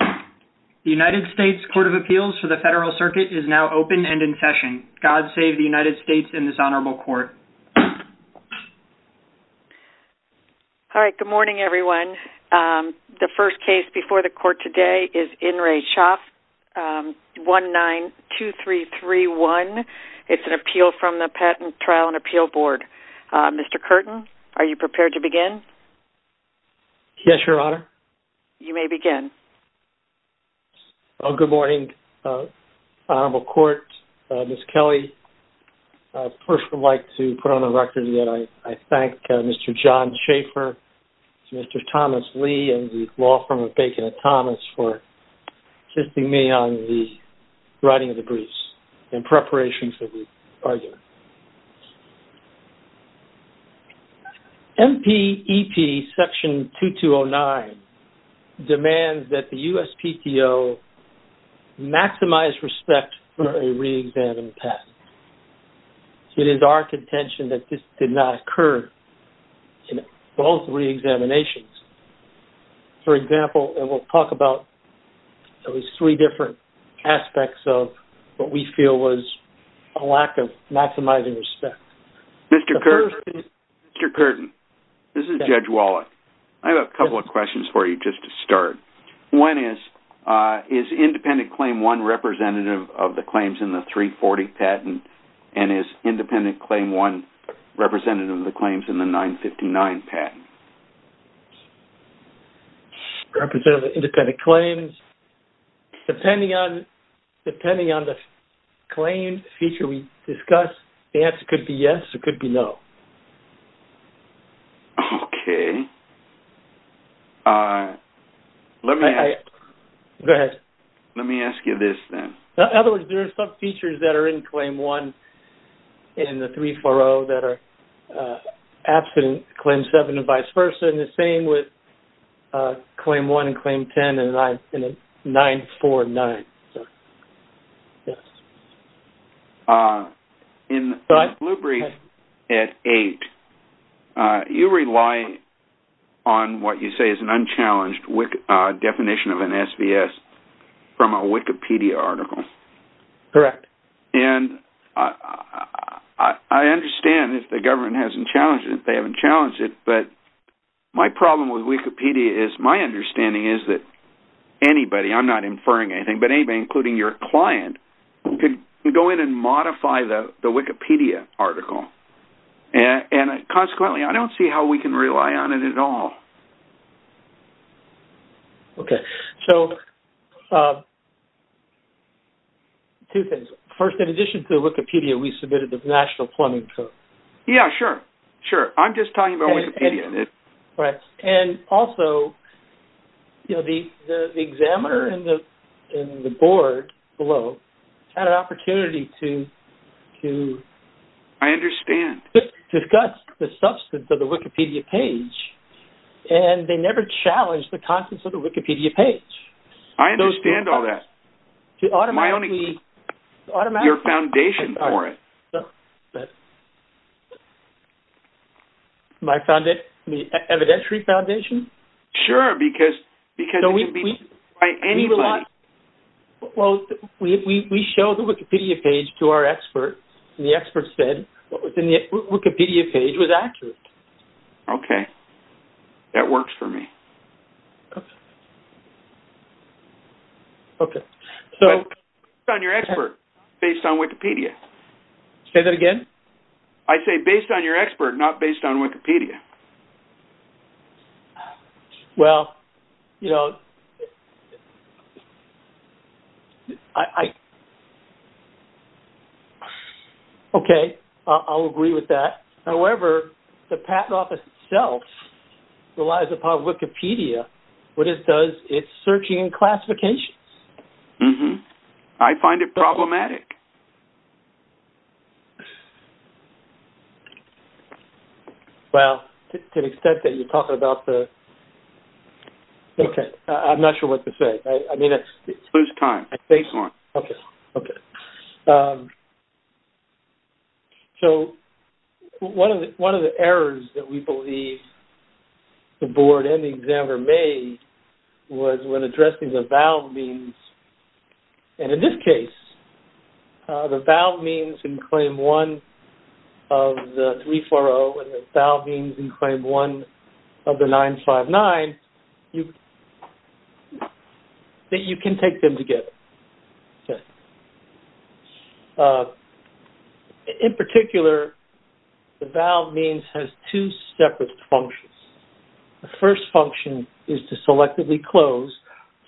The United States Court of Appeals for the Federal Circuit is now open and in session. God save the United States and this honorable court. All right, good morning, everyone. The first case before the court today is In Re Schopf, 192331. It's an appeal from the Patent Trial and Appeal Board. Mr. Curtin, are you prepared to begin? Yes, Your Honor. You may begin. Well, good morning, Honorable Court, Ms. Kelley. First, I'd like to put on the record that I thank Mr. John Schaefer, Mr. Thomas Lee and the law firm of Bacon and Thomas for assisting me on the writing of the briefs in preparation for the argument. MPEP Section 2209 demands that the USPTO maximize respect for a reexamined test. It is our contention that this did not occur in both reexaminations. For example, and we'll talk about at least three different aspects of what we feel was a lack of maximizing respect. Mr. Curtin, this is Judge Wallach. I have a couple of questions for you just to start. One is, is independent claim one representative of the claims in the 340 patent and is independent claim one representative of the claims in the 959 patent? Representative of independent claims, depending on the claim feature we discuss, the answer could be yes, it could be no. Okay. Let me ask you this then. Go ahead. In other words, there are some features that are in claim one in the 340 that are absent in claim seven and vice versa, and the same with claim one and claim 10 and 949. Yes. In the blue brief at eight, you rely on what you say is an unchallenged definition of an SVS from a Wikipedia article. Correct. And I understand if the government hasn't challenged it, they haven't challenged it, but my problem with Wikipedia is my understanding is that anybody, I'm not inferring anything, but anybody, including your client, could go in and modify the Wikipedia article. And consequently, I don't see how we can rely on it at all. Okay. So, two things. First, in addition to Wikipedia, we submitted the National Plumbing Code. Yes, sure. Sure. I'm just talking about Wikipedia. Right. And also, the examiner in the board below had an opportunity to... I understand. ...discuss the substance of the Wikipedia page, and they never challenged the contents of the Wikipedia page. I understand all that. My only... Automatically... ...your foundation for it. My evidentiary foundation? Sure, because it can be by anybody. Well, we show the Wikipedia page to our experts, and the experts said the Wikipedia page was accurate. Okay. That works for me. Okay. So... Based on your expert, based on Wikipedia. Say that again? I say based on your expert, not based on Wikipedia. Well, you know, I... Okay. I'll agree with that. However, the patent office itself relies upon Wikipedia. What it does, it's searching in classifications. Mm-hmm. I find it problematic. Well, to the extent that you're talking about the... Okay. I'm not sure what to say. I mean, it's... Lose time. Okay. Okay. Okay. So, one of the errors that we believe the board and the examiner made was when addressing the valve means. And in this case, the valve means in Claim 1 of the 340, and the valve means in Claim 1 of the 959, that you can take them together. Okay. In particular, the valve means has two separate functions. The first function is to selectively close.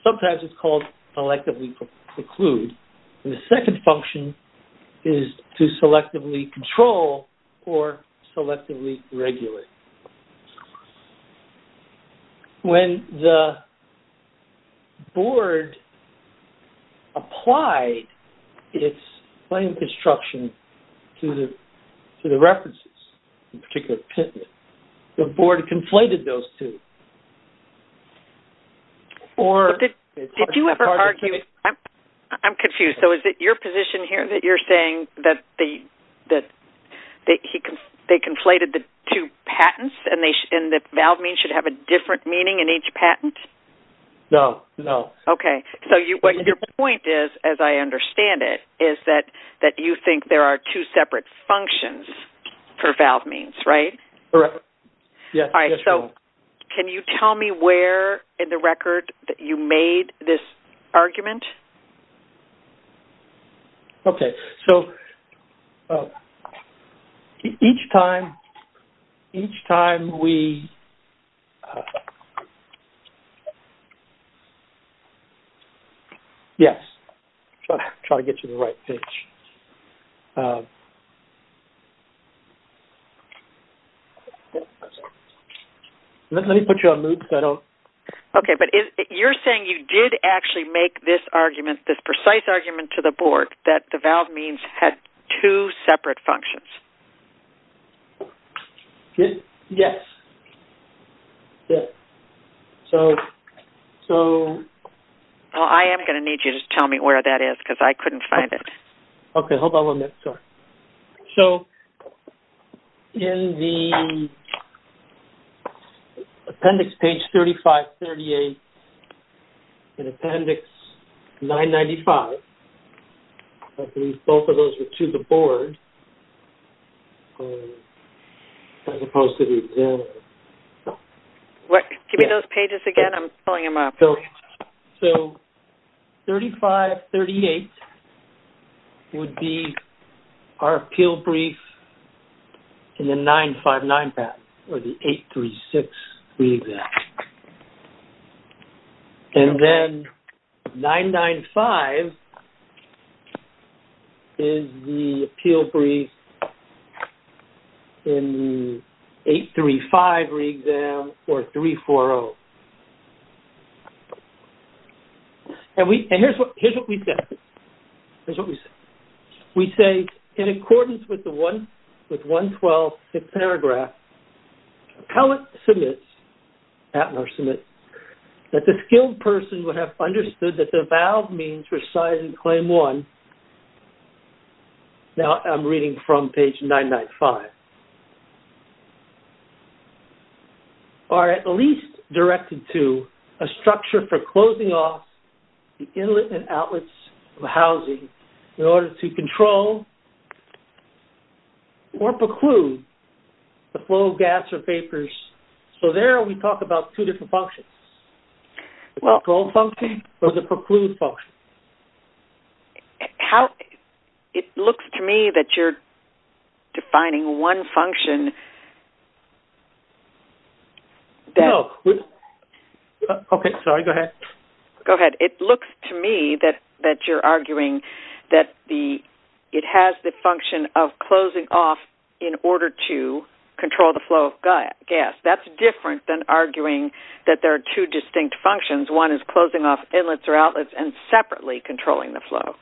Sometimes it's called selectively preclude. And the second function is to selectively control or selectively regulate. When the board applied its claim construction to the references, in particular, the board conflated those two. Did you ever argue... I'm confused. So, is it your position here that you're saying that they conflated the two patents and the valve means should have a different meaning in each patent? No. No. Okay. So, what your point is, as I understand it, is that you think there are two separate functions for valve means, right? Correct. Yes. Yes, we are. Can you tell me where in the record that you made this argument? Okay. So, each time we... Yes. I'm trying to get you the right page. Let me put you on mute so I don't... Okay, but you're saying you did actually make this argument, this precise argument to the board that the valve means had two separate functions. Yes. Yes. So... Well, I am going to need you to tell me where that is because I couldn't find it. Okay. Hold on one minute. Sorry. So, in the appendix page 3538, in appendix 995, I believe both of those are to the board as opposed to the examiner. Give me those pages again. I'm pulling them up. So, 3538 would be our appeal brief in the 959 patent or the 836 re-exam. And then 995 is the appeal brief in 835 re-exam or 340. And we... And here's what we say. Here's what we say. We say, in accordance with the 112th paragraph, appellate submits, appellate submits, that the skilled person would have understood that the valve means were signed in claim one. Now, I'm reading from page 995. The valve means are at least directed to a structure for closing off the inlet and outlets of housing in order to control or preclude the flow of gas or vapors. So, there we talk about two different functions. Well... The control function or the preclude function. How... It looks to me that you're defining one function that... No. Okay, sorry. Go ahead. Go ahead. It looks to me that you're arguing that it has the function of closing off in order to control the flow of gas. That's different than arguing that there are two distinct functions. One is closing off inlets or outlets and separately controlling the flow.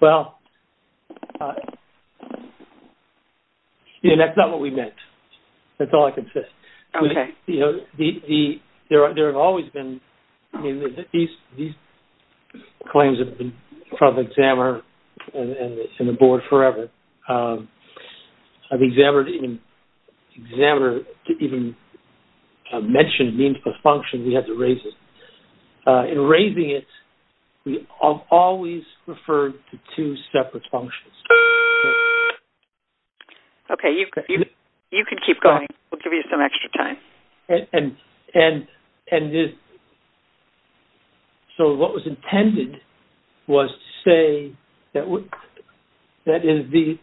Well... You know, that's not what we meant. That's all I can say. Okay. You know, there have always been... I mean, these claims have been from XAMR and the board forever. I mean, XAMR didn't even mention the function. We had to raise it. In raising it, we always referred to two separate functions. Okay. You can keep going. We'll give you some extra time. And so what was intended was to say that the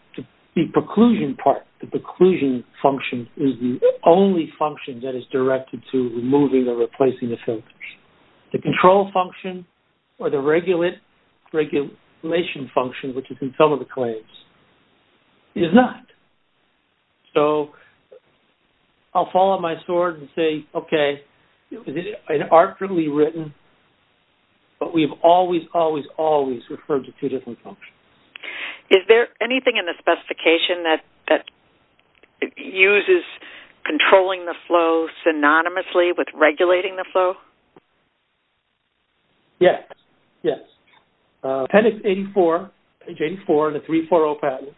preclusion part, the preclusion function is the only function that is directed to removing or replacing the filters. The control function or the regulation function, which is in some of the claims, is not. So I'll fall on my sword and say, okay, it's arbitrarily written, but we've always, always, always referred to two different functions. Is there anything in the specification that uses controlling the flow synonymously with regulating the flow? Yes. Yes. Okay. So, appendix 84, page 84 in the 340 pattern.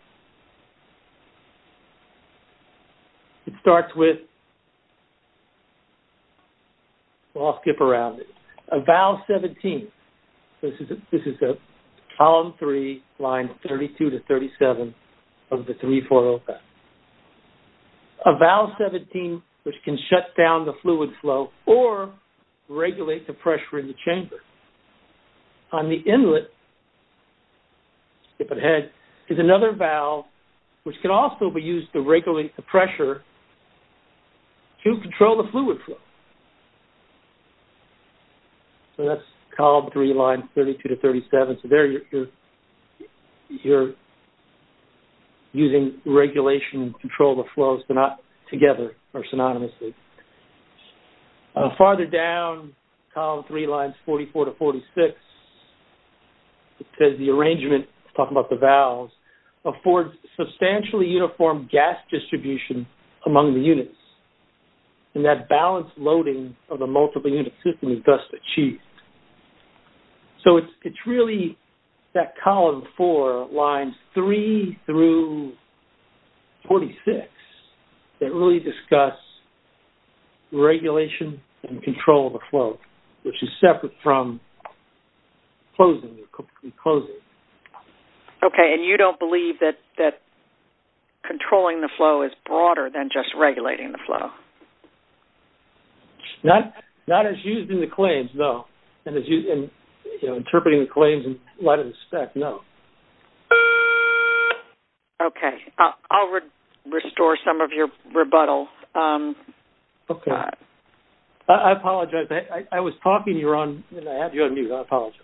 It starts with... Well, I'll skip around it. A valve 17. This is column 3, line 32 to 37 of the 340 pattern. A valve 17, which can shut down the fluid flow or regulate the pressure in the chamber. Skip ahead. There's another valve, which can also be used to regulate the pressure to control the fluid flow. So that's column 3, line 32 to 37. So there you're using regulation to control the flows, but not together or synonymously. Farther down, column 3, lines 44 to 46, it says the arrangement, talking about the valves, affords substantially uniform gas distribution among the units, and that balanced loading of the multiple unit system is thus achieved. So it's really that column 4, lines 3 through 46, that really discuss regulation and control of the flow, which is separate from closing. Okay. And you don't believe that controlling the flow is broader than just regulating the flow? Not as used in the claims, no. And interpreting the claims in light of the spec, no. Okay. I'll restore some of your rebuttal. Okay. I apologize. I was talking and I had you on mute. I apologize.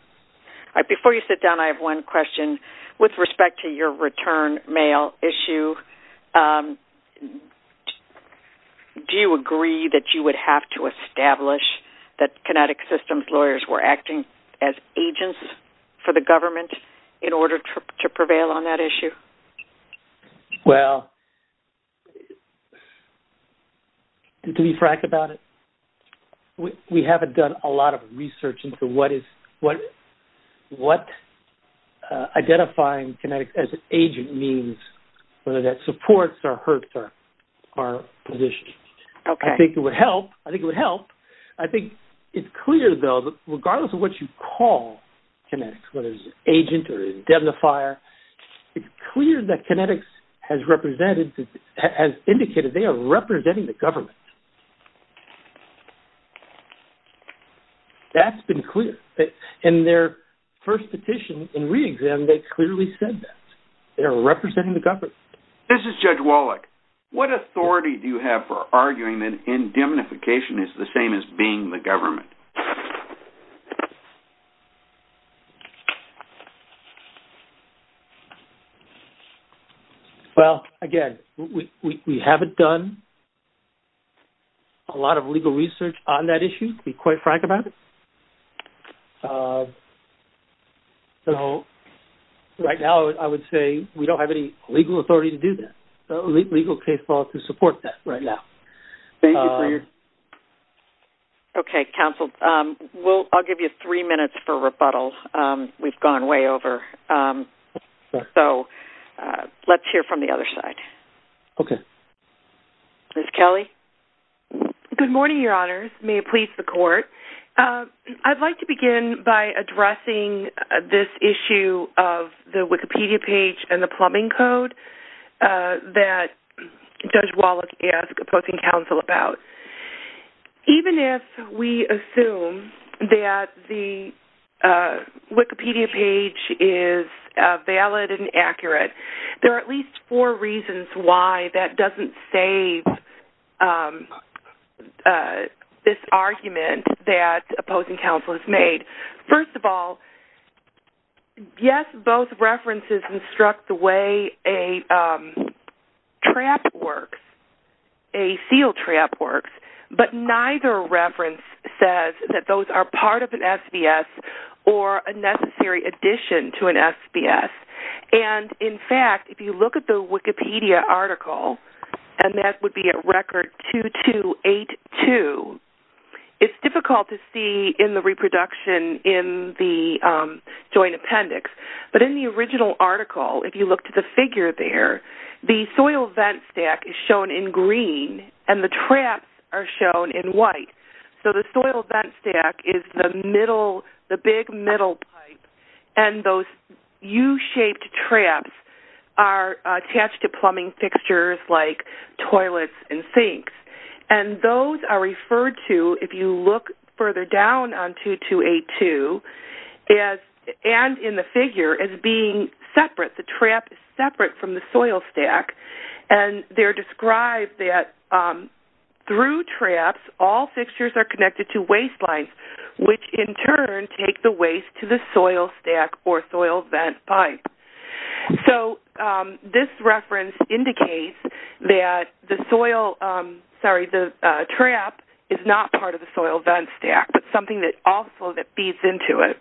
Before you sit down, I have one question. With respect to your return mail issue, do you agree that you would have to establish that Kinetic Systems lawyers were acting as agents for the government in order to prevail on that issue? Well... To be frank about it, we haven't done a lot of research into what identifying kinetics as an agent means, whether that supports or hurts our position. I think it would help. I think it's clear, though, that regardless of what you call kinetics, whether it's an agent or an indemnifier, it's clear that kinetics has indicated they are representing the government. That's been clear. In their first petition in re-exam, they clearly said that. They are representing the government. This is Judge Wallach. What authority do you have for arguing that indemnification is the same as being the government? Well, again, we haven't done a lot of legal research on that issue, to be quite frank about it. So, right now, I would say we don't have any legal authority to do that, legal case law to support that right now. Thank you for your... Okay, counsel. I'll give you three minutes for rebuttal. We've gone way over. So, let's hear from the other side. Okay. Ms. Kelly? Good morning, Your Honors. May it please the Court. I'd like to begin by addressing this issue of the Wikipedia page and the plumbing code that Judge Wallach asked the Posting Council about. Even if we assume that the Wikipedia page is valid and accurate, there are at least four reasons why that doesn't save this argument that the Posting Council has made. First of all, yes, both references instruct the way a trap works, a seal trap works, but neither reference says that those are part of an SBS or a necessary addition to an SBS. And, in fact, if you look at the Wikipedia article, and that would be at record 2282, it's difficult to see in the reproduction in the joint appendix, but in the original article, if you look to the figure there, the soil vent stack is shown in green and the traps are shown in white. So the soil vent stack is the big middle pipe and those U-shaped traps are attached to plumbing fixtures like toilets and sinks. And those are referred to, if you look further down on 2282 and in the figure, as being separate. The trap is separate from the soil stack and they're described that through traps, all fixtures are connected to waste lines, which in turn take the waste to the soil stack or soil vent pipe. So this reference indicates that the trap is not part of the soil vent stack, but something also that feeds into it.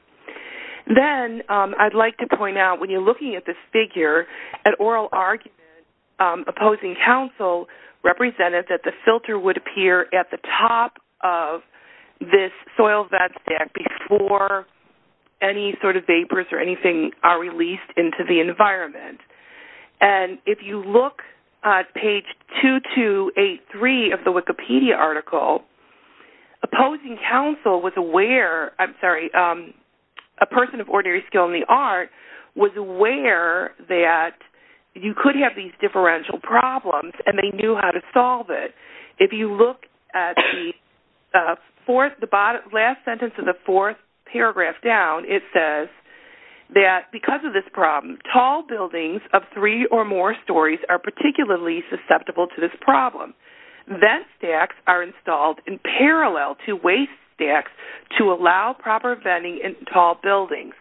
Then I'd like to point out, when you're looking at this figure, an oral argument opposing counsel represented that the filter would appear at the top of this soil vent stack before any sort of vapors or anything are released into the environment. And if you look at page 2283 of the Wikipedia article, opposing counsel was aware, I'm sorry, a person of ordinary skill in the art, was aware that you could have these differential problems and they knew how to solve it. If you look at the last sentence of the fourth paragraph down, it says that because of this problem, tall buildings of three or more stories are particularly susceptible to this problem. Vent stacks are installed in parallel to waste stacks to allow proper venting in tall buildings.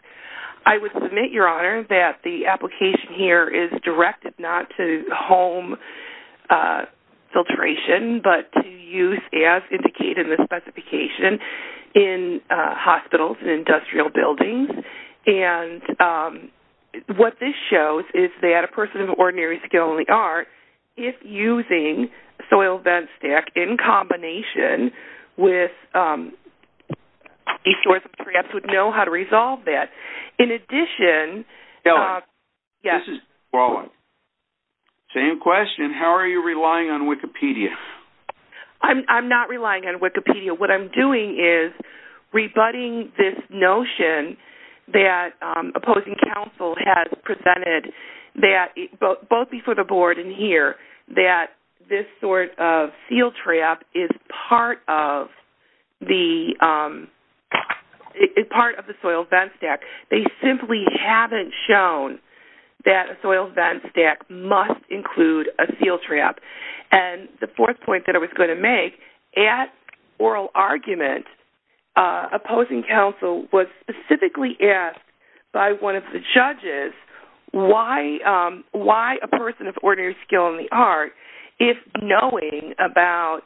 I would submit, Your Honor, that the application here is directed not to home filtration, but to use, as indicated in the specification, in hospitals and industrial buildings. And what this shows is that a person of ordinary skill in the art, if using soil vent stack in combination with these sorts of traps, would know how to resolve that. In addition... Ellen, this is Roland. Same question. How are you relying on Wikipedia? I'm not relying on Wikipedia. What I'm doing is rebutting this notion that opposing counsel has presented, both before the Board and here, that this sort of seal trap is part of the soil vent stack. They simply haven't shown that a soil vent stack must include a seal trap. And the fourth point that I was going to make, at oral argument, opposing counsel was specifically asked by one of the judges why a person of ordinary skill in the art, if knowing about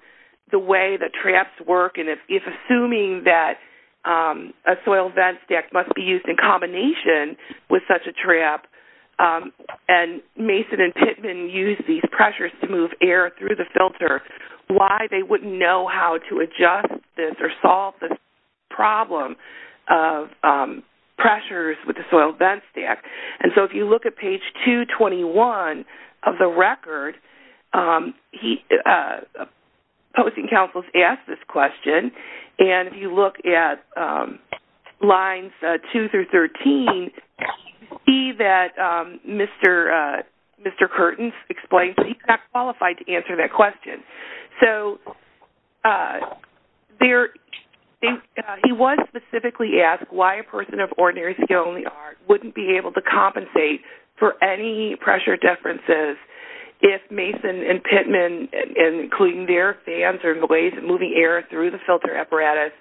the way the traps work and if assuming that a soil vent stack must be used in combination with such a trap, and Mason and Pittman used these pressures to move air through the filter, why they wouldn't know how to adjust this or solve this problem of pressures with the soil vent stack. And so if you look at page 221 of the record, opposing counsel has asked this question. And if you look at lines 2 through 13, you see that Mr. Curtins explains that he's not qualified to answer that question. So he was specifically asked why a person of ordinary skill in the art wouldn't be able to compensate for any pressure differences if Mason and Pittman, including their fans or the ways of moving air through the filter apparatus,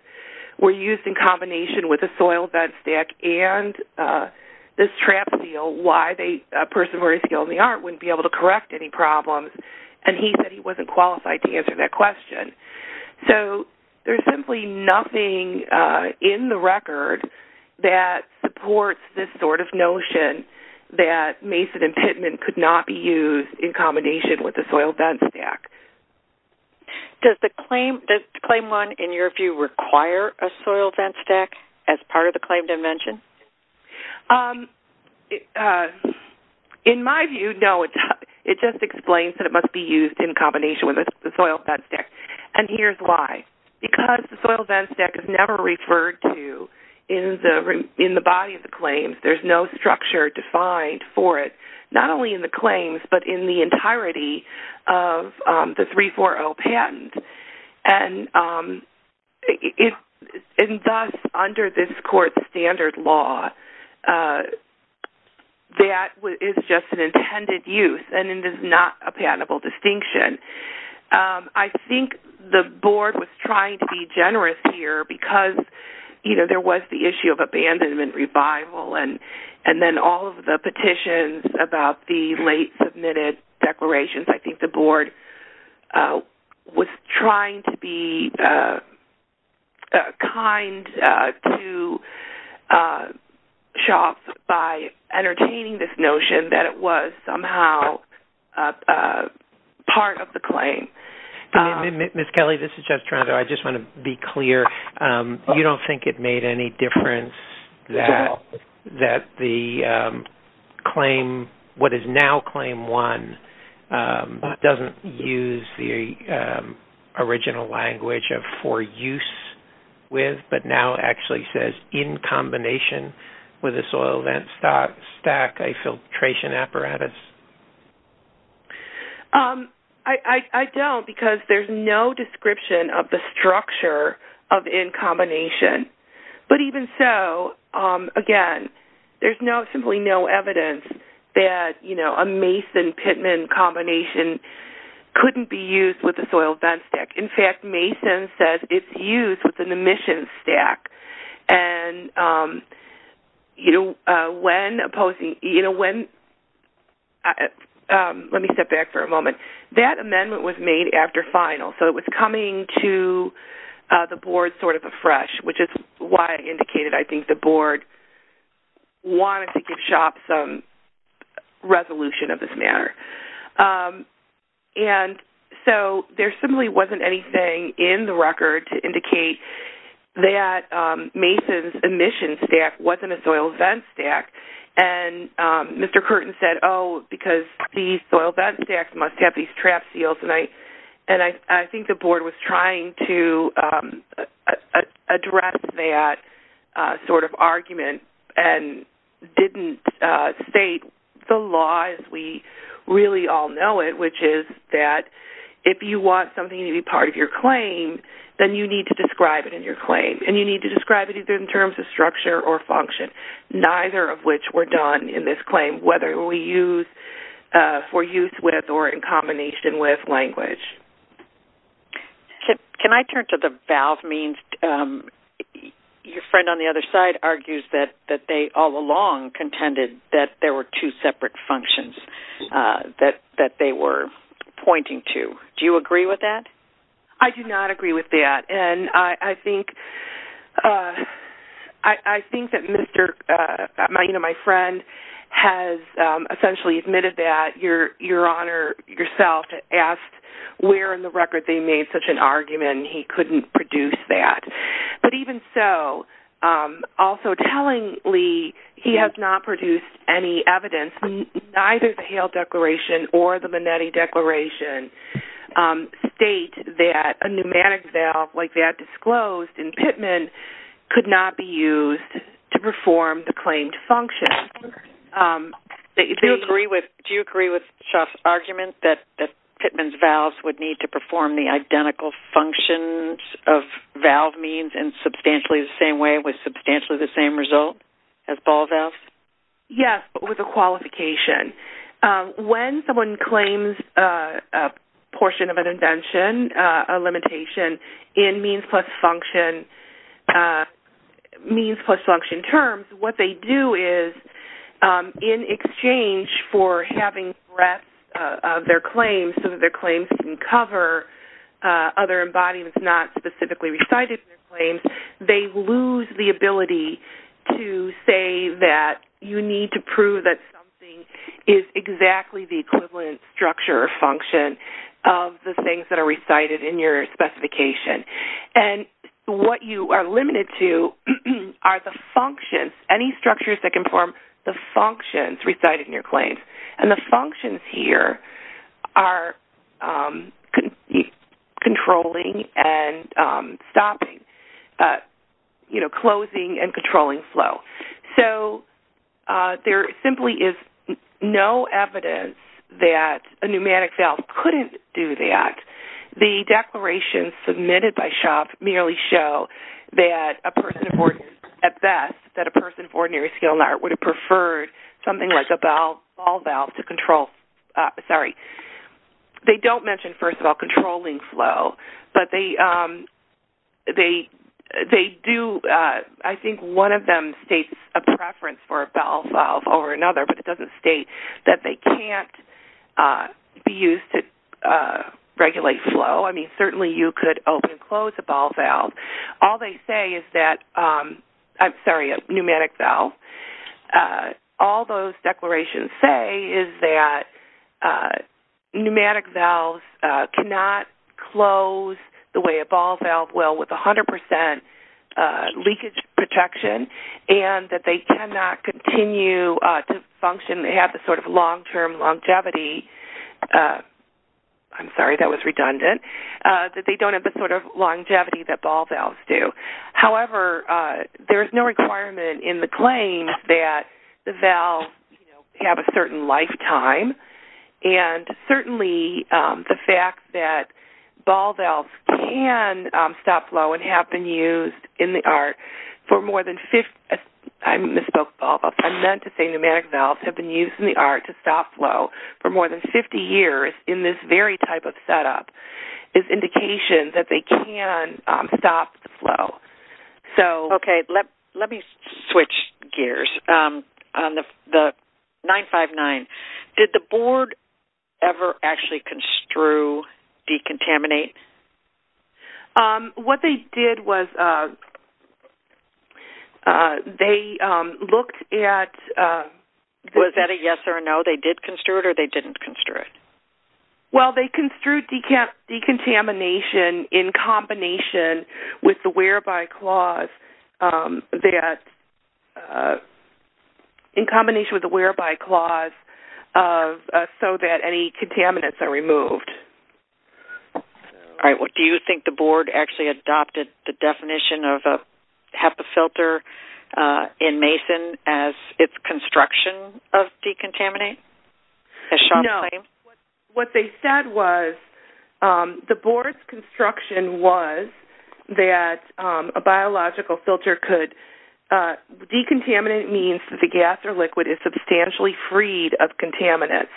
were used in combination with a soil vent stack and this trap seal, why a person of ordinary skill in the art wouldn't be able to correct any problems. And he said he wasn't qualified to answer that question. So there's simply nothing in the record that supports this sort of notion that Mason and Pittman could not be used in combination with a soil vent stack. Does claim 1, in your view, require a soil vent stack as part of the claim dimension? In my view, no. It just explains that it must be used in combination with the soil vent stack. And here's why. Because the soil vent stack is never referred to in the body of the claims. There's no structure defined for it, not only in the claims, but in the entirety of the 340 patent. And thus, under this court standard law, that is just an intended use and it is not a patentable distinction. I think the board was trying to be generous here because, you know, there was the issue of abandonment, revival, and then all of the petitions about the late submitted declarations. I think the board was trying to be kind to SHOP by entertaining this notion that it was somehow part of the claim. Ms. Kelly, this is Jeff Toronto. I just want to be clear. You don't think it made any difference that the claim, what is now claim 1, doesn't use the original language of for use with, but now actually says in combination with a soil vent stack, a filtration apparatus? I don't because there's no description of the structure of in combination. But even so, again, there's simply no evidence that, you know, a Mason-Pittman combination couldn't be used with a soil vent stack. In fact, Mason says it's used with an emission stack. And, you know, when opposing, you know, when, let me step back for a moment. That amendment was made after final, so it was coming to the board sort of afresh, which is why I indicated I think the board wanted to give SHOP some resolution of this matter. And so there simply wasn't anything in the record to indicate that Mason's emission stack wasn't a soil vent stack. And Mr. Curtin said, oh, because these soil vent stacks must have these trap seals. And I think the board was trying to address that sort of argument and didn't state the law as we really all know it, which is that if you want something to be part of your claim, then you need to describe it in your claim. And you need to describe it in terms of structure or function, neither of which were done in this claim, whether we use for use with or in combination with language. Can I turn to the valve means? Your friend on the other side argues that they all along contended that there were two separate functions that they were pointing to. Do you agree with that? I do not agree with that. And I think that Mr. Maena, my friend, has essentially admitted that. Your Honor, yourself asked where in the record they made such an argument and he couldn't produce that. But even so, also tellingly, he has not produced any evidence, neither the Hale Declaration or the Minetti Declaration, state that a pneumatic valve like that disclosed in Pittman could not be used to perform the claimed function. Do you agree with Shaf's argument that Pittman's valves would need to perform the identical functions of valve means in substantially the same way with substantially the same result as ball valves? Yes, but with a qualification. When someone claims a portion of an invention, a limitation in means plus function terms, what they do is in exchange for having breadth of their claims so that their claims can cover other embodiments not specifically recited in their claims, they lose the ability to say that you need to prove that something is exactly the equivalent structure or function of the things that are recited in your specification. What you are limited to are the functions, any structures that can perform the functions recited in your claims. The functions here are controlling and stopping, closing and controlling flow. There simply is no evidence that a pneumatic valve couldn't do that. The declarations submitted by Shaf merely show at best that a person of ordinary skill would have preferred something like a ball valve to control. They don't mention, first of all, controlling flow, but I think one of them states a preference for a ball valve over another, but it doesn't state that they can't be used to regulate flow. Certainly you could open and close a pneumatic valve. All those declarations say is that pneumatic valves cannot close the way a ball valve will with 100% leakage protection and that they cannot continue to function. They have the sort of long-term longevity. I'm sorry, that was redundant. They don't have the sort of longevity that ball valves do. However, there is no requirement in the claim that the valves have a certain lifetime, and certainly the fact that ball valves can stop flow and have been used in the ART for more than 50 years in this very type of setup is indication that they can stop the flow. Okay, let me switch gears on the 959. Did the board ever actually construe decontaminate? What they did was they looked at... Was that a yes or a no? They did construe it or they didn't construe it? Well, they construed decontamination in combination with the whereby clause that in combination with the whereby clause so that any contaminants are removed. All right, do you think the board actually adopted the definition of a HEPA filter in Mason as its construction of decontaminate? No. What they said was the board's construction was that a biological filter could... decontaminate means that the gas or liquid is substantially freed of contaminants.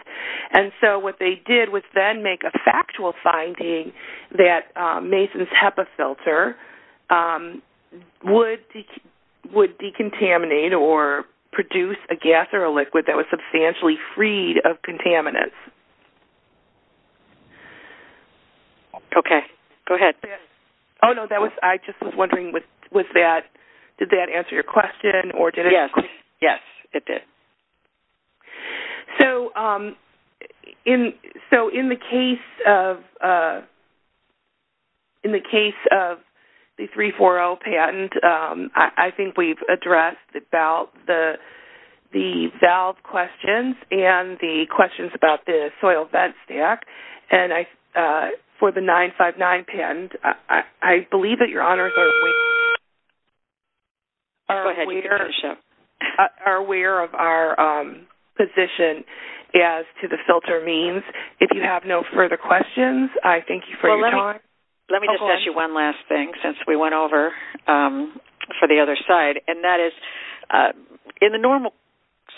And so what they did was then make a factual finding that Mason's HEPA filter would decontaminate or produce a gas or a liquid that was substantially freed of contaminants. Okay, go ahead. Oh, no, I just was wondering, did that answer your question? Yes, it did. So in the case of the 340 patent, I think we've addressed the valve questions and the questions about the soil vent stack. And for the 959 patent, I believe that your honors are aware... position as to the filter means. If you have no further questions, I thank you for your time. Well, let me just ask you one last thing since we went over for the other side. And that is, in the normal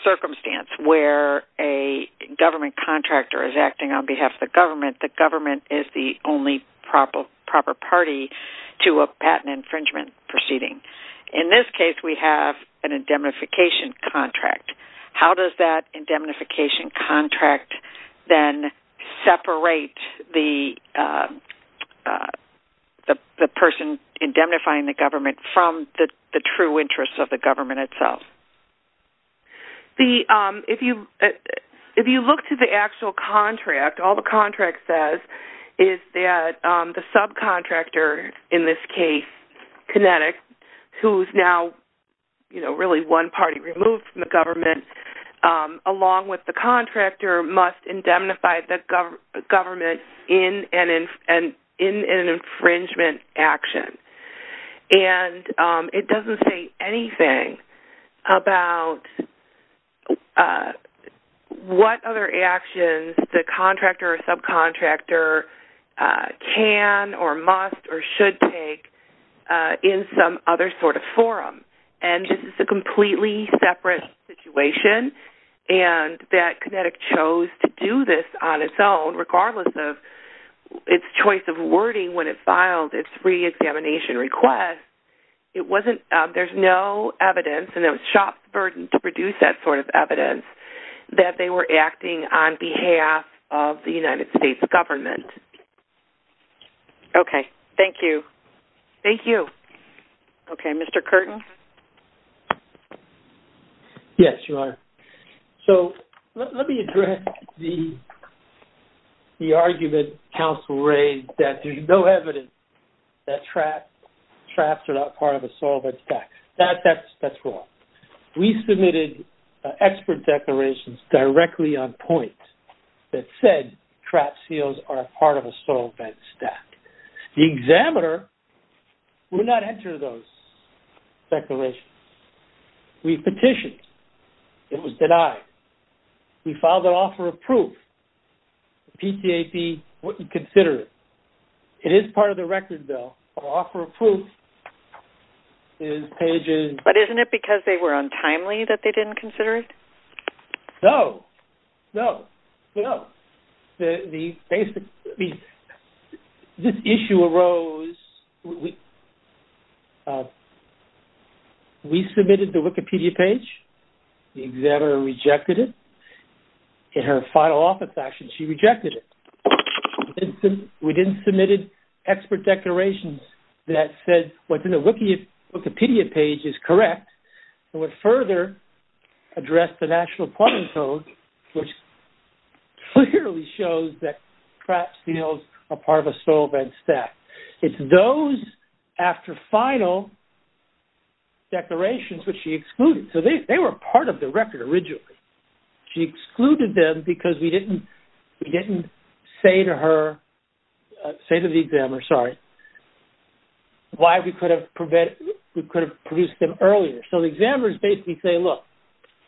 circumstance where a government contractor is acting on behalf of the government, the government is the only proper party to a patent infringement proceeding. In this case, we have an indemnification contract. How does that indemnification contract then separate the person indemnifying the government from the true interests of the government itself? If you look to the actual contract, all the contract says is that the subcontractor, in this case, Kinetic, who is now really one party removed from the government, along with the contractor, must indemnify the government in an infringement action. And it doesn't say anything about what other actions the contractor or subcontractor can or must or should take in some other sort of forum. And this is a completely separate situation, and that Kinetic chose to do this on its own, regardless of its choice of wording when it filed its reexamination request. There's no evidence, and it was shop's burden to produce that sort of evidence, that they were acting on behalf of the United States government. Okay. Thank you. Thank you. Okay. Mr. Curtin? Yes, Your Honor. So, let me address the argument counsel raised that there's no evidence that traps are not part of a solvent tax. That's wrong. We submitted expert declarations directly on point that said traps, seals are a part of a solvent stack. The examiner would not enter those declarations. We petitioned. It was denied. We filed an offer of proof. The PCAP wouldn't consider it. It is part of the record, though. The offer of proof is pages... But isn't it because they were untimely that they didn't consider it? No. No. No. The basic... This issue arose... We submitted the Wikipedia page. The examiner rejected it. In her final office action, she rejected it. We didn't submit expert declarations that said what's in the Wikipedia page is correct and would further address the National Quarantine Code, which clearly shows that traps, seals are part of a solvent stack. It's those after final declarations which she excluded. So, they were part of the record originally. She excluded them because we didn't say to her... say to the examiner, sorry, why we could have produced them earlier. So, the examiners basically say, look,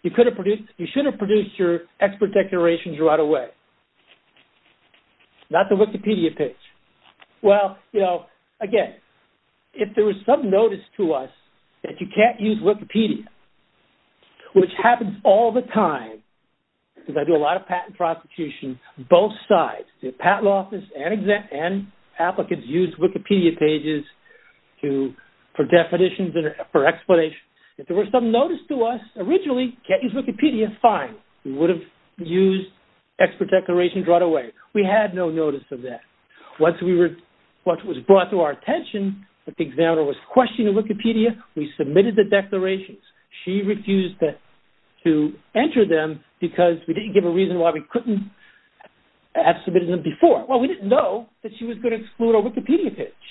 you should have produced your expert declarations right away. Not the Wikipedia page. Well, you know, again, if there was some notice to us that you can't use Wikipedia, which happens all the time because I do a lot of patent prosecution, both sides, the patent office and applicants, use Wikipedia pages for definitions and for explanations. If there was some notice to us, originally, can't use Wikipedia, fine. We would have used expert declarations right away. We had no notice of that. Once it was brought to our attention that the examiner was questioning Wikipedia, we submitted the declarations. She refused to enter them because we didn't give a reason why we couldn't have submitted them before. Well, we didn't know that she was going to exclude our Wikipedia page.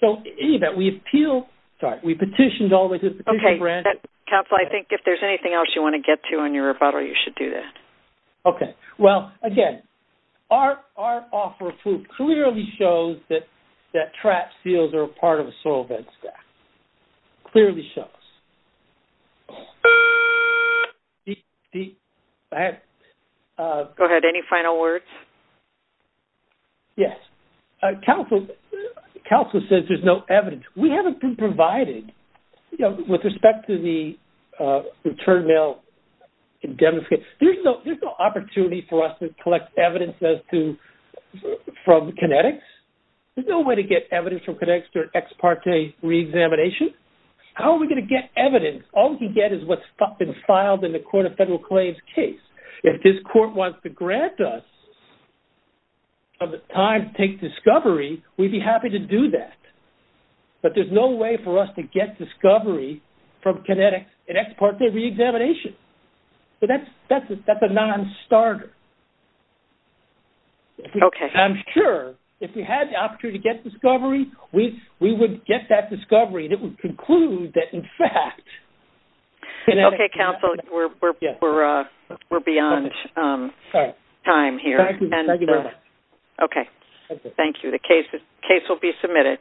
So, in any event, we appealed... sorry, we petitioned all the way to the Petition Branch... Okay, counsel, I think if there's anything else you want to get to in your rebuttal, you should do that. Okay. Well, again, our offer of proof clearly shows that trap seals are a part of a soil bed stack. Clearly shows. Beep. Go ahead. Any final words? Yes. Counsel says there's no evidence. We haven't been provided, you know, with respect to the return mail... There's no opportunity for us to collect evidence as to... from kinetics. There's no way to get evidence from kinetics during ex parte reexamination. How are we going to get evidence? All we can get is what's been filed in the Court of Federal Claims case. If this court wants to grant us time to take discovery, we'd be happy to do that. But there's no way for us to get discovery from kinetics in ex parte reexamination. So that's a non-starter. Okay. I'm sure if we had the opportunity to get discovery, we would get that discovery and it would conclude that, in fact... Okay, counsel, we're beyond time here. Thank you very much. Okay. Thank you. The case will be submitted.